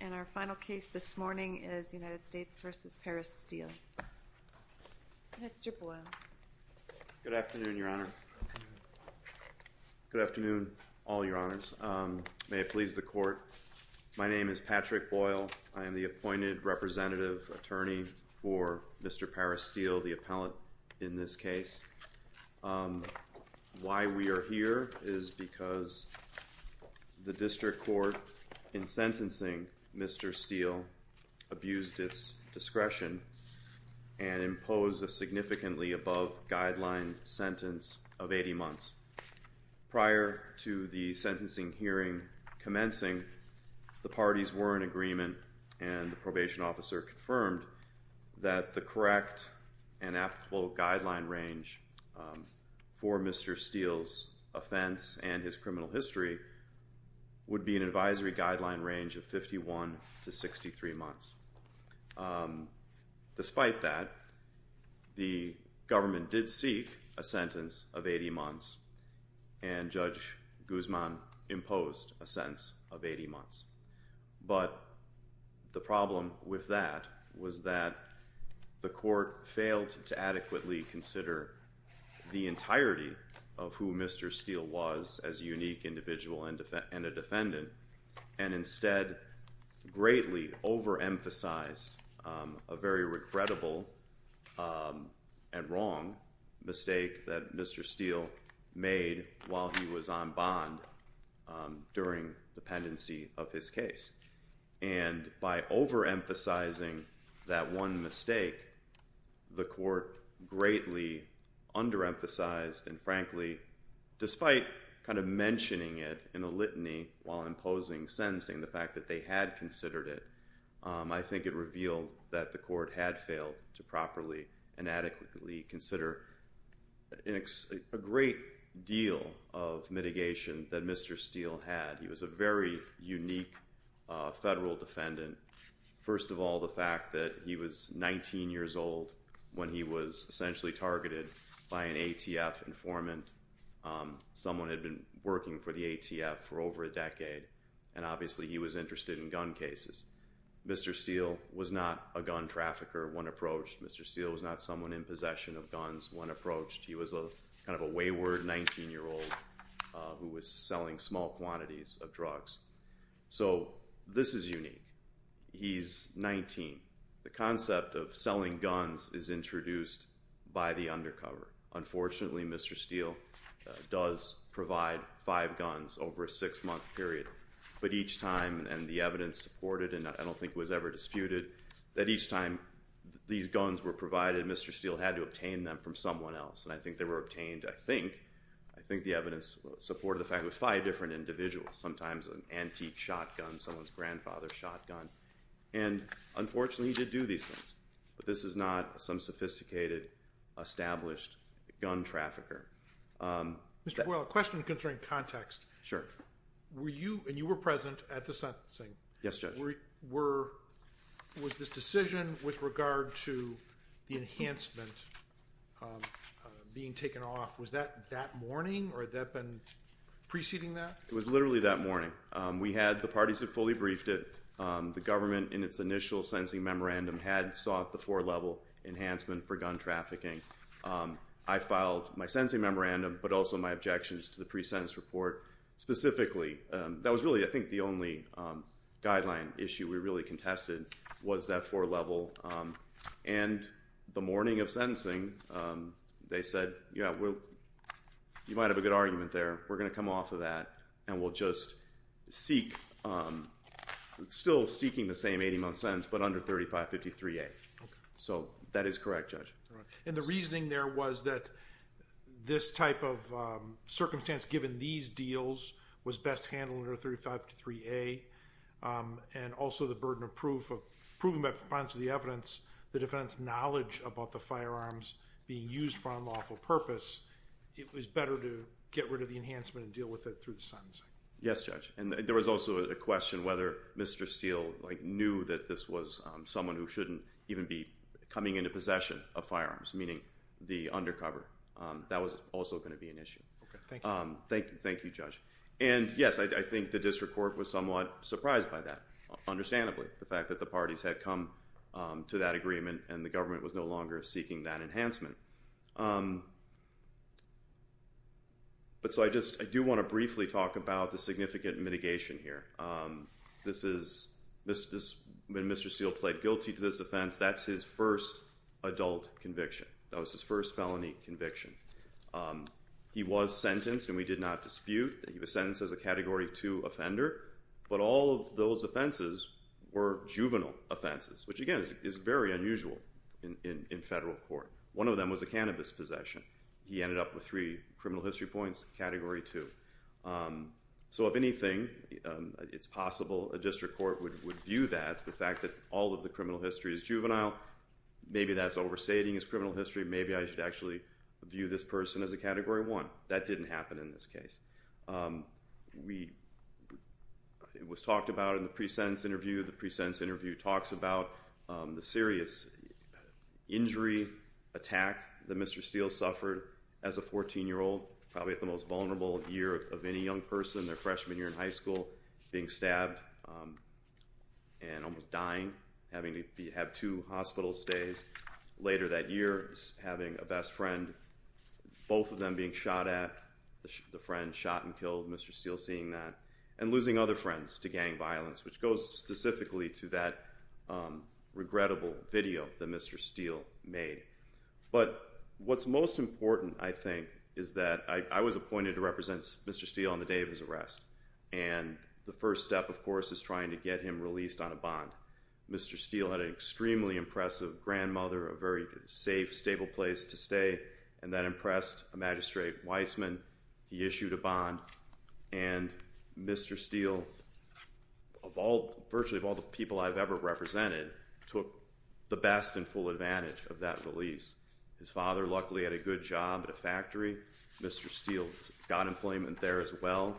And our final case this morning is United States v. Paris Steele. Mr. Boyle. Good afternoon, Your Honor. Good afternoon, all Your Honors. May it please the Court, my name is Patrick Boyle. I am the appointed representative attorney for Mr. Paris Steele, the appellate in this case. Why we are here is because the district court in sentencing Mr. Steele abused its discretion and imposed a significantly above guideline sentence of 80 months. Prior to the sentencing hearing commencing, the parties were in agreement and the probation officer confirmed that the correct and applicable guideline range for Mr. Steele's offense and his criminal history would be an advisory guideline range of 51 to 63 months. Despite that, the government did seek a sentence of 80 months and Judge Guzman imposed a sentence of 80 months. But the problem with that was that the court failed to adequately consider the entirety of who Mr. Steele was as a unique individual and a defendant and instead greatly overemphasized a very regrettable and wrong mistake that Mr. Steele made while he was on bond during the pendency of his case. And by overemphasizing that one mistake, the court greatly underemphasized and frankly, despite kind of mentioning it in a litany while imposing sentencing, the fact that they had considered it, I think it revealed that the court had failed to properly and adequately consider a great deal of mitigation that Mr. Steele had. He was a very unique federal defendant. First of all, the fact that he was 19 years old when he was essentially targeted by an ATF informant. Someone had been working for the ATF for over a decade and obviously he was interested in gun cases. Mr. Steele was not a gun trafficker when approached. Mr. Steele was not someone in possession of a gun. He was selling small quantities of drugs. So this is unique. He's 19. The concept of selling guns is introduced by the undercover. Unfortunately, Mr. Steele does provide five guns over a six-month period, but each time, and the evidence supported, and I don't think it was ever disputed, that each time these guns were provided, Mr. Steele had to obtain them from someone else. And I think they were obtained, I think, I think the evidence supported the fact that it was five different individuals, sometimes an antique shotgun, someone's grandfather's shotgun. And unfortunately, he did do these things. But this is not some sophisticated established gun trafficker. Mr. Boyle, a question concerning context. Sure. Were you, and you were present at the sentencing. Yes, Judge. Were, was this decision with regard to the enhancement being taken off, was that that morning, or had that been preceding that? It was literally that morning. We had, the parties had fully briefed it. The government, in its initial sentencing memorandum, had sought the four-level enhancement for gun trafficking. I filed my sentencing memorandum, but also my objections to the pre-sentence report specifically. That was really, I think, the only guideline issue we really contested was that four-level. And the morning of sentencing, they said, yeah, we'll, you might as well have a good argument there. We're going to come off of that, and we'll just seek, still seeking the same 80-month sentence, but under 3553A. So that is correct, Judge. All right. And the reasoning there was that this type of circumstance, given these deals, was best handled under 3553A, and also the burden of proof of, proven by proponents of the evidence, the defendant's knowledge about the firearms being used for unlawful purpose, it was better to get rid of the enhancement and deal with it through the sentencing. Yes, Judge. And there was also a question whether Mr. Steele knew that this was someone who shouldn't even be coming into possession of firearms, meaning the undercover. That was also going to be an issue. Okay. Thank you. Thank you, Judge. And yes, I think the district court was somewhat surprised by that, understandably, the fact that the parties had come to that agreement, and the government was no longer seeking that enhancement. But so I just, I do want to briefly talk about the significant mitigation here. This is, when Mr. Steele pled guilty to this offense, that's his first adult conviction. That was his first felony conviction. He was sentenced, and we did not dispute that he was sentenced as a Category 2 offender, but all of those offenses were in federal court. One of them was a cannabis possession. He ended up with three criminal history points, Category 2. So if anything, it's possible a district court would view that, the fact that all of the criminal history is juvenile. Maybe that's overstating his criminal history. Maybe I should actually view this person as a Category 1. That didn't happen in this case. We, it was talked about in the pre-sentence interview. The pre-sentence interview talks about the serious injury, attack that Mr. Steele suffered as a 14-year-old, probably at the most vulnerable year of any young person, their freshman year in high school, being stabbed and almost dying, having to have two hospital stays. Later that year, having a best friend, both of them being shot at, the friend shot and killed, Mr. Steele seeing that, and losing other friends to gang violence, which goes specifically to that regrettable video that Mr. Steele made. But what's most important, I think, is that I was appointed to represent Mr. Steele on the day of his arrest, and the first step, of course, is trying to get him released on a bond. Mr. Steele had an extremely impressive grandmother, a very safe, stable place to live. He issued a bond, and Mr. Steele, of all, virtually of all the people I've ever represented, took the best and full advantage of that release. His father, luckily, had a good job at a factory. Mr. Steele got employment there as well.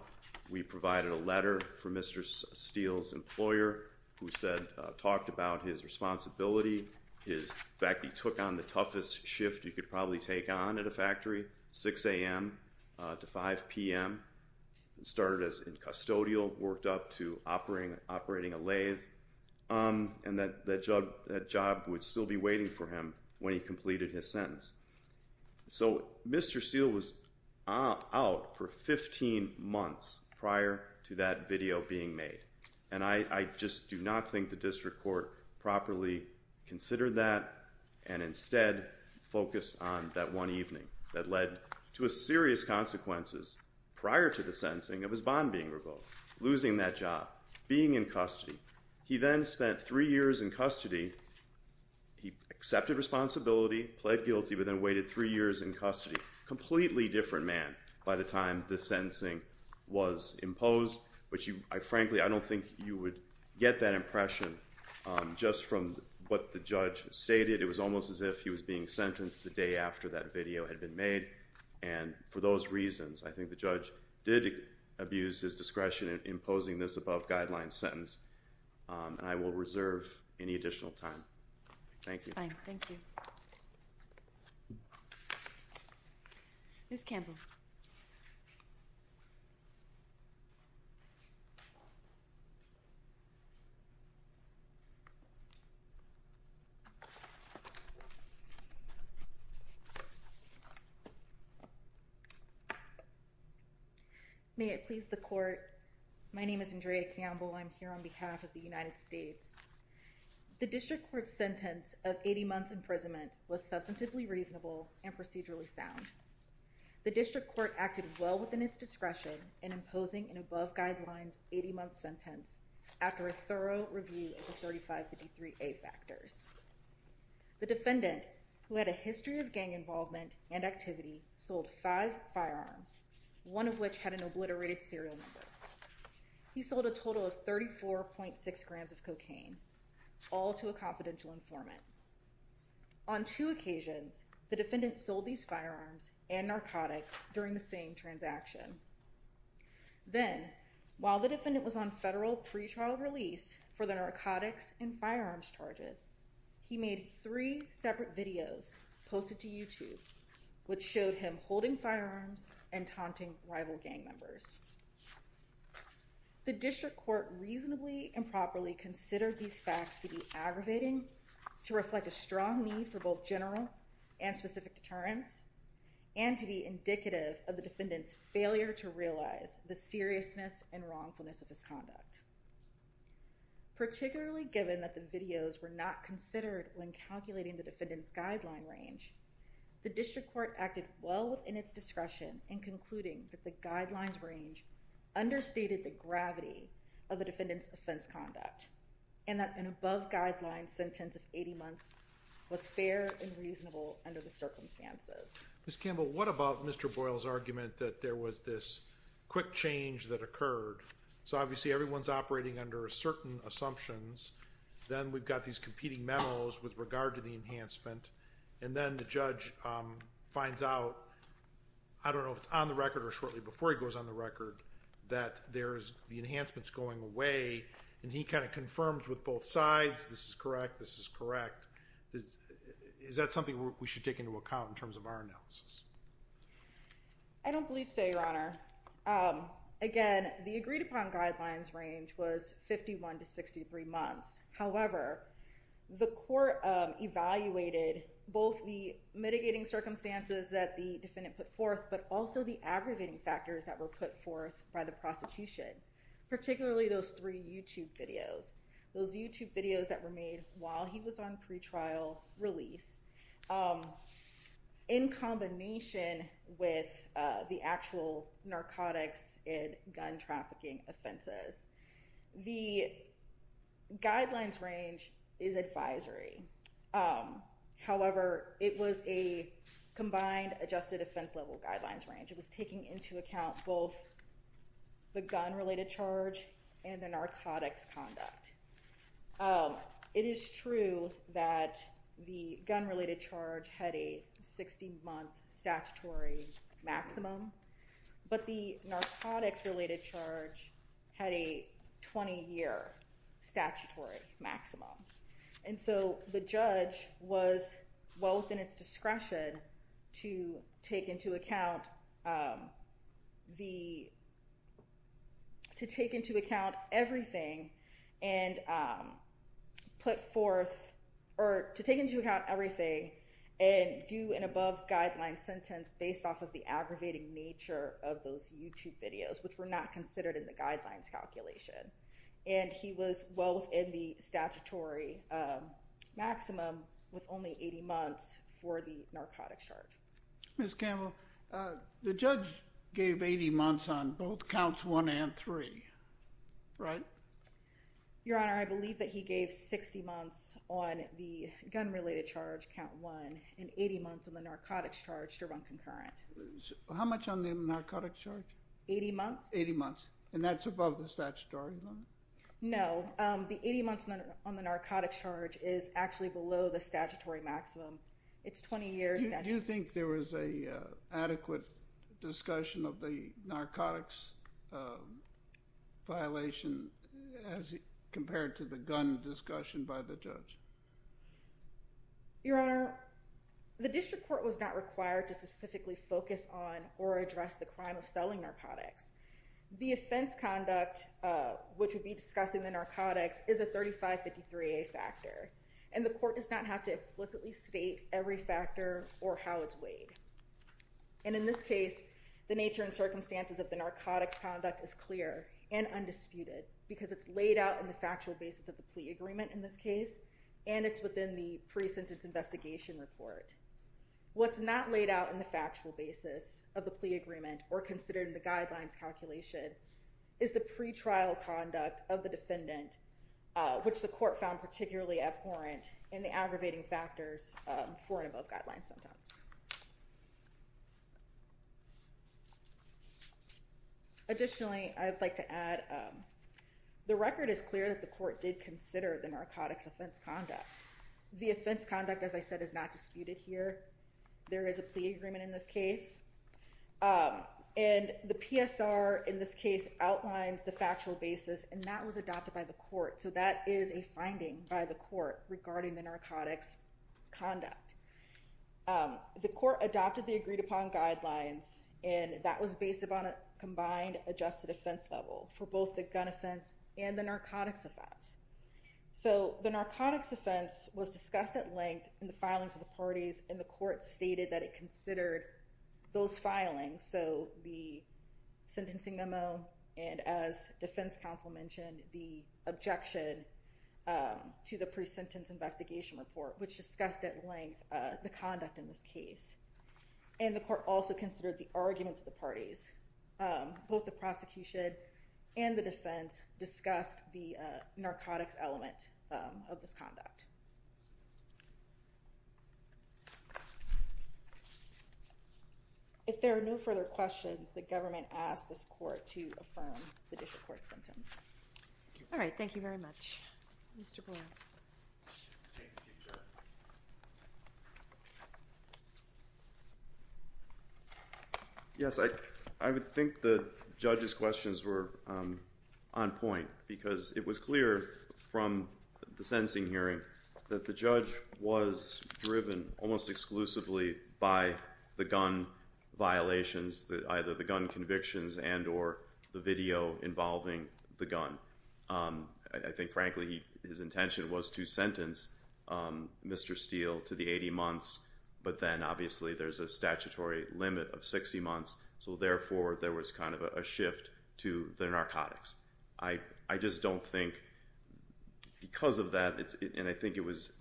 We provided a letter for Mr. Steele's employer, who said, talked about his responsibility. In fact, he took on the job until 5 p.m., started as a custodial, worked up to operating a lathe, and that job would still be waiting for him when he completed his sentence. So, Mr. Steele was out for 15 months prior to that video being made, and I just do not think the district court properly considered that, and instead focused on that one evening that led to a serious consequences prior to the sentencing of his bond being revoked, losing that job, being in custody. He then spent three years in custody. He accepted responsibility, pled guilty, but then waited three years in custody. Completely different man by the time the sentencing was imposed, which frankly, I don't think you would get that impression just from what the judge stated. It was almost as if he was being sentenced the day after that video had been made, and for those reasons, I think the judge did abuse his discretion in imposing this above-guideline sentence, and I will reserve any additional time. Thank you. That's fine. Thank you. Ms. Campbell. May it please the court, my name is Andrea Campbell. I'm here on behalf of the United States. The district court's sentence of 80 months imprisonment was substantively reasonable and procedurally sound. The district court acted well within its discretion in imposing an above-guidelines 80-month sentence after a thorough review of the 3553A factors. The defendant, who had a history of gang involvement and activity, sold five firearms, one of which had an obliterated serial number. He sold a total of 34.6 grams of cocaine, all to a confidential informant. On two occasions, the defendant sold these firearms and narcotics during the same transaction. Then, while the defendant was on federal pretrial release for the narcotics and firearms charges, he made three separate videos posted to YouTube, which showed him holding firearms and taunting rival gang members. The district court reasonably and properly considered these facts to be aggravating, to reflect a strong need for both general and specific deterrence, and to be indicative of the defendant's failure to realize the seriousness and wrongfulness of his conduct. Particularly given that the videos were not considered when calculating the defendant's guideline range, the district court acted well within its discretion in concluding that the guidelines range understated the gravity of the defendant's offense conduct, and that an above-guidelines sentence of 80 years was not considered unreasonable under the circumstances. Ms. Campbell, what about Mr. Boyle's argument that there was this quick change that occurred? So obviously everyone's operating under certain assumptions, then we've got these competing memos with regard to the enhancement, and then the judge finds out, I don't know if it's on the record or shortly before he goes on the record, that there's the enhancements going away, and he kind of confirms with both sides, this is correct, this is correct. Is that something we should take into account in terms of our analysis? I don't believe so, Your Honor. Again, the agreed-upon guidelines range was 51-63 months. However, the court evaluated both the mitigating circumstances that the defendant put forth, but also the aggravating factors that were put forth by the prosecution, particularly those three YouTube videos. Those YouTube videos that were made while he was on pretrial release, in combination with the actual narcotics and gun trafficking offenses. The guidelines range is advisory. However, it was a combined adjusted offense-level guideline, and that was the guidelines range. It was taking into account both the gun-related charge and the narcotics conduct. It is true that the gun-related charge had a 60-month statutory maximum, but the narcotics-related charge had a 20-year statutory maximum. And so the judge was well within the statutory maximum to take into account everything and do an above-guideline sentence based off of the aggravating nature of those YouTube videos, which were not considered in the guidelines calculation. And he was well within the statutory maximum with only 80 months for the narcotics charge. Ms. Campbell, the judge gave 80 months on both counts one and three, right? Your Honor, I believe that he gave 60 months on the gun-related charge, count one, and 80 months on the narcotics charge to run concurrent. How much on the narcotics charge? Eighty months. Eighty months. And that's above the statutory limit? No. The 80 months on the narcotics charge is actually below the statutory maximum. It's 20 years. Do you think there was an adequate discussion of the narcotics violation as compared to the gun discussion by the judge? Your Honor, the district court was not required to specifically focus on or address the crime of selling narcotics. The offense conduct, which would be discussing the narcotics, is a 3553A factor, and the court does not have to explicitly state every factor or how it's weighed. And in this case, the nature and circumstances of the narcotics conduct is clear and undisputed because it's laid out in the factual basis of the plea agreement in this case, and it's within the pre-sentence investigation report. What's not laid out in the factual basis of the plea agreement or considered in the guidelines calculation is the pre-trial conduct of the defendant, which the court found particularly abhorrent in the aggravating factors for and above guideline sentence. Additionally, I'd like to add, the record is clear that the court did consider the narcotics offense conduct. The offense conduct, as I said, is not disputed here. There is a plea agreement in this case, and the PSR in this case outlines the factual basis, and that was adopted by the court. So that is a finding by the court regarding the narcotics conduct. The court adopted the agreed upon guidelines, and that was based upon a combined adjusted offense level for both the gun offense and the narcotics offense. So the narcotics offense was discussed at length in the filings of the parties, and the court stated that it considered those filings, so the sentencing memo, and as defense counsel mentioned, the objection to the pre-sentence investigation report, which discussed at length the conduct in this case. And the court also considered the arguments of the parties. Both the prosecution and the defense discussed the narcotics element of this conduct. If there are no further questions, the government asks this court to affirm the district court sentence. All right, thank you very much. Mr. Boyle. Thank you, Judge. Yes, I would think the judge's question is were on point, because it was clear from the sentencing hearing that the judge was driven almost exclusively by the gun violations, either the gun convictions and or the video involving the gun. I think, frankly, his intention was to sentence Mr. Steele to the 80 months, but then obviously there's a statutory limit of 60 months, so therefore there was kind of a shift to the narcotics. I just don't think, because of that, and I think it was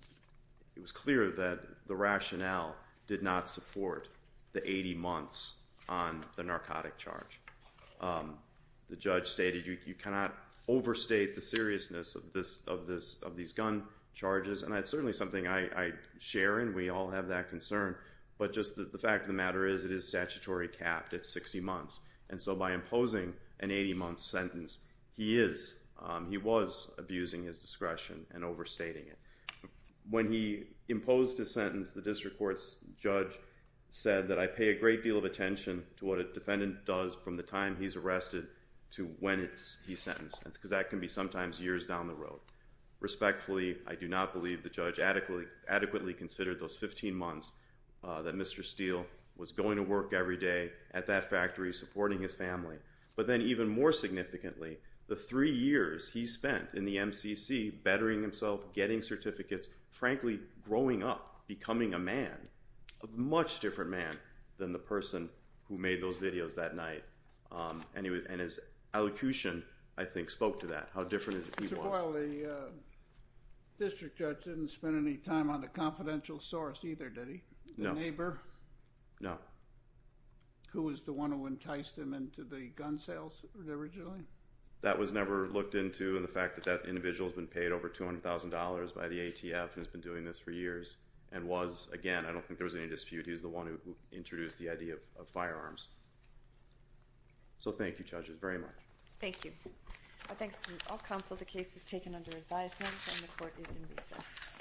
clear that the rationale did not support the 80 months on the narcotic charge. The judge stated you cannot overstate the seriousness of these gun charges, and that's certainly something I share, and we all have that concern, but just the fact of the matter is it is statutory capped at 60 months, and so by imposing an 80 month sentence, he was abusing his discretion and overstating it. When he imposed his sentence, the district court's judge said that I pay a great deal of attention to what a defendant does from the time he's arrested to when he's sentenced, because that can be sometimes years down the road. Respectfully, I do not believe the judge adequately considered those 15 months that Mr. Steele was going to work every day at that factory supporting his family, but then even more significantly, the three years he spent in the MCC bettering himself, getting certificates, frankly growing up, becoming a man, a much different man than the person who made those videos that night, and his elocution, I think, spoke to that, how different he was. So while the district judge didn't spend any time on the confidential source either, did he? No. The neighbor? No. Who was the one who enticed him into the gun sales originally? That was never looked into, and the fact that that individual's been paid over $200,000 by the ATF, who's been doing this for years, and was, again, I don't think there was any So thank you, judges, very much. Thank you. Thanks to all counsel, the case is taken under advisement, and the court is in recess.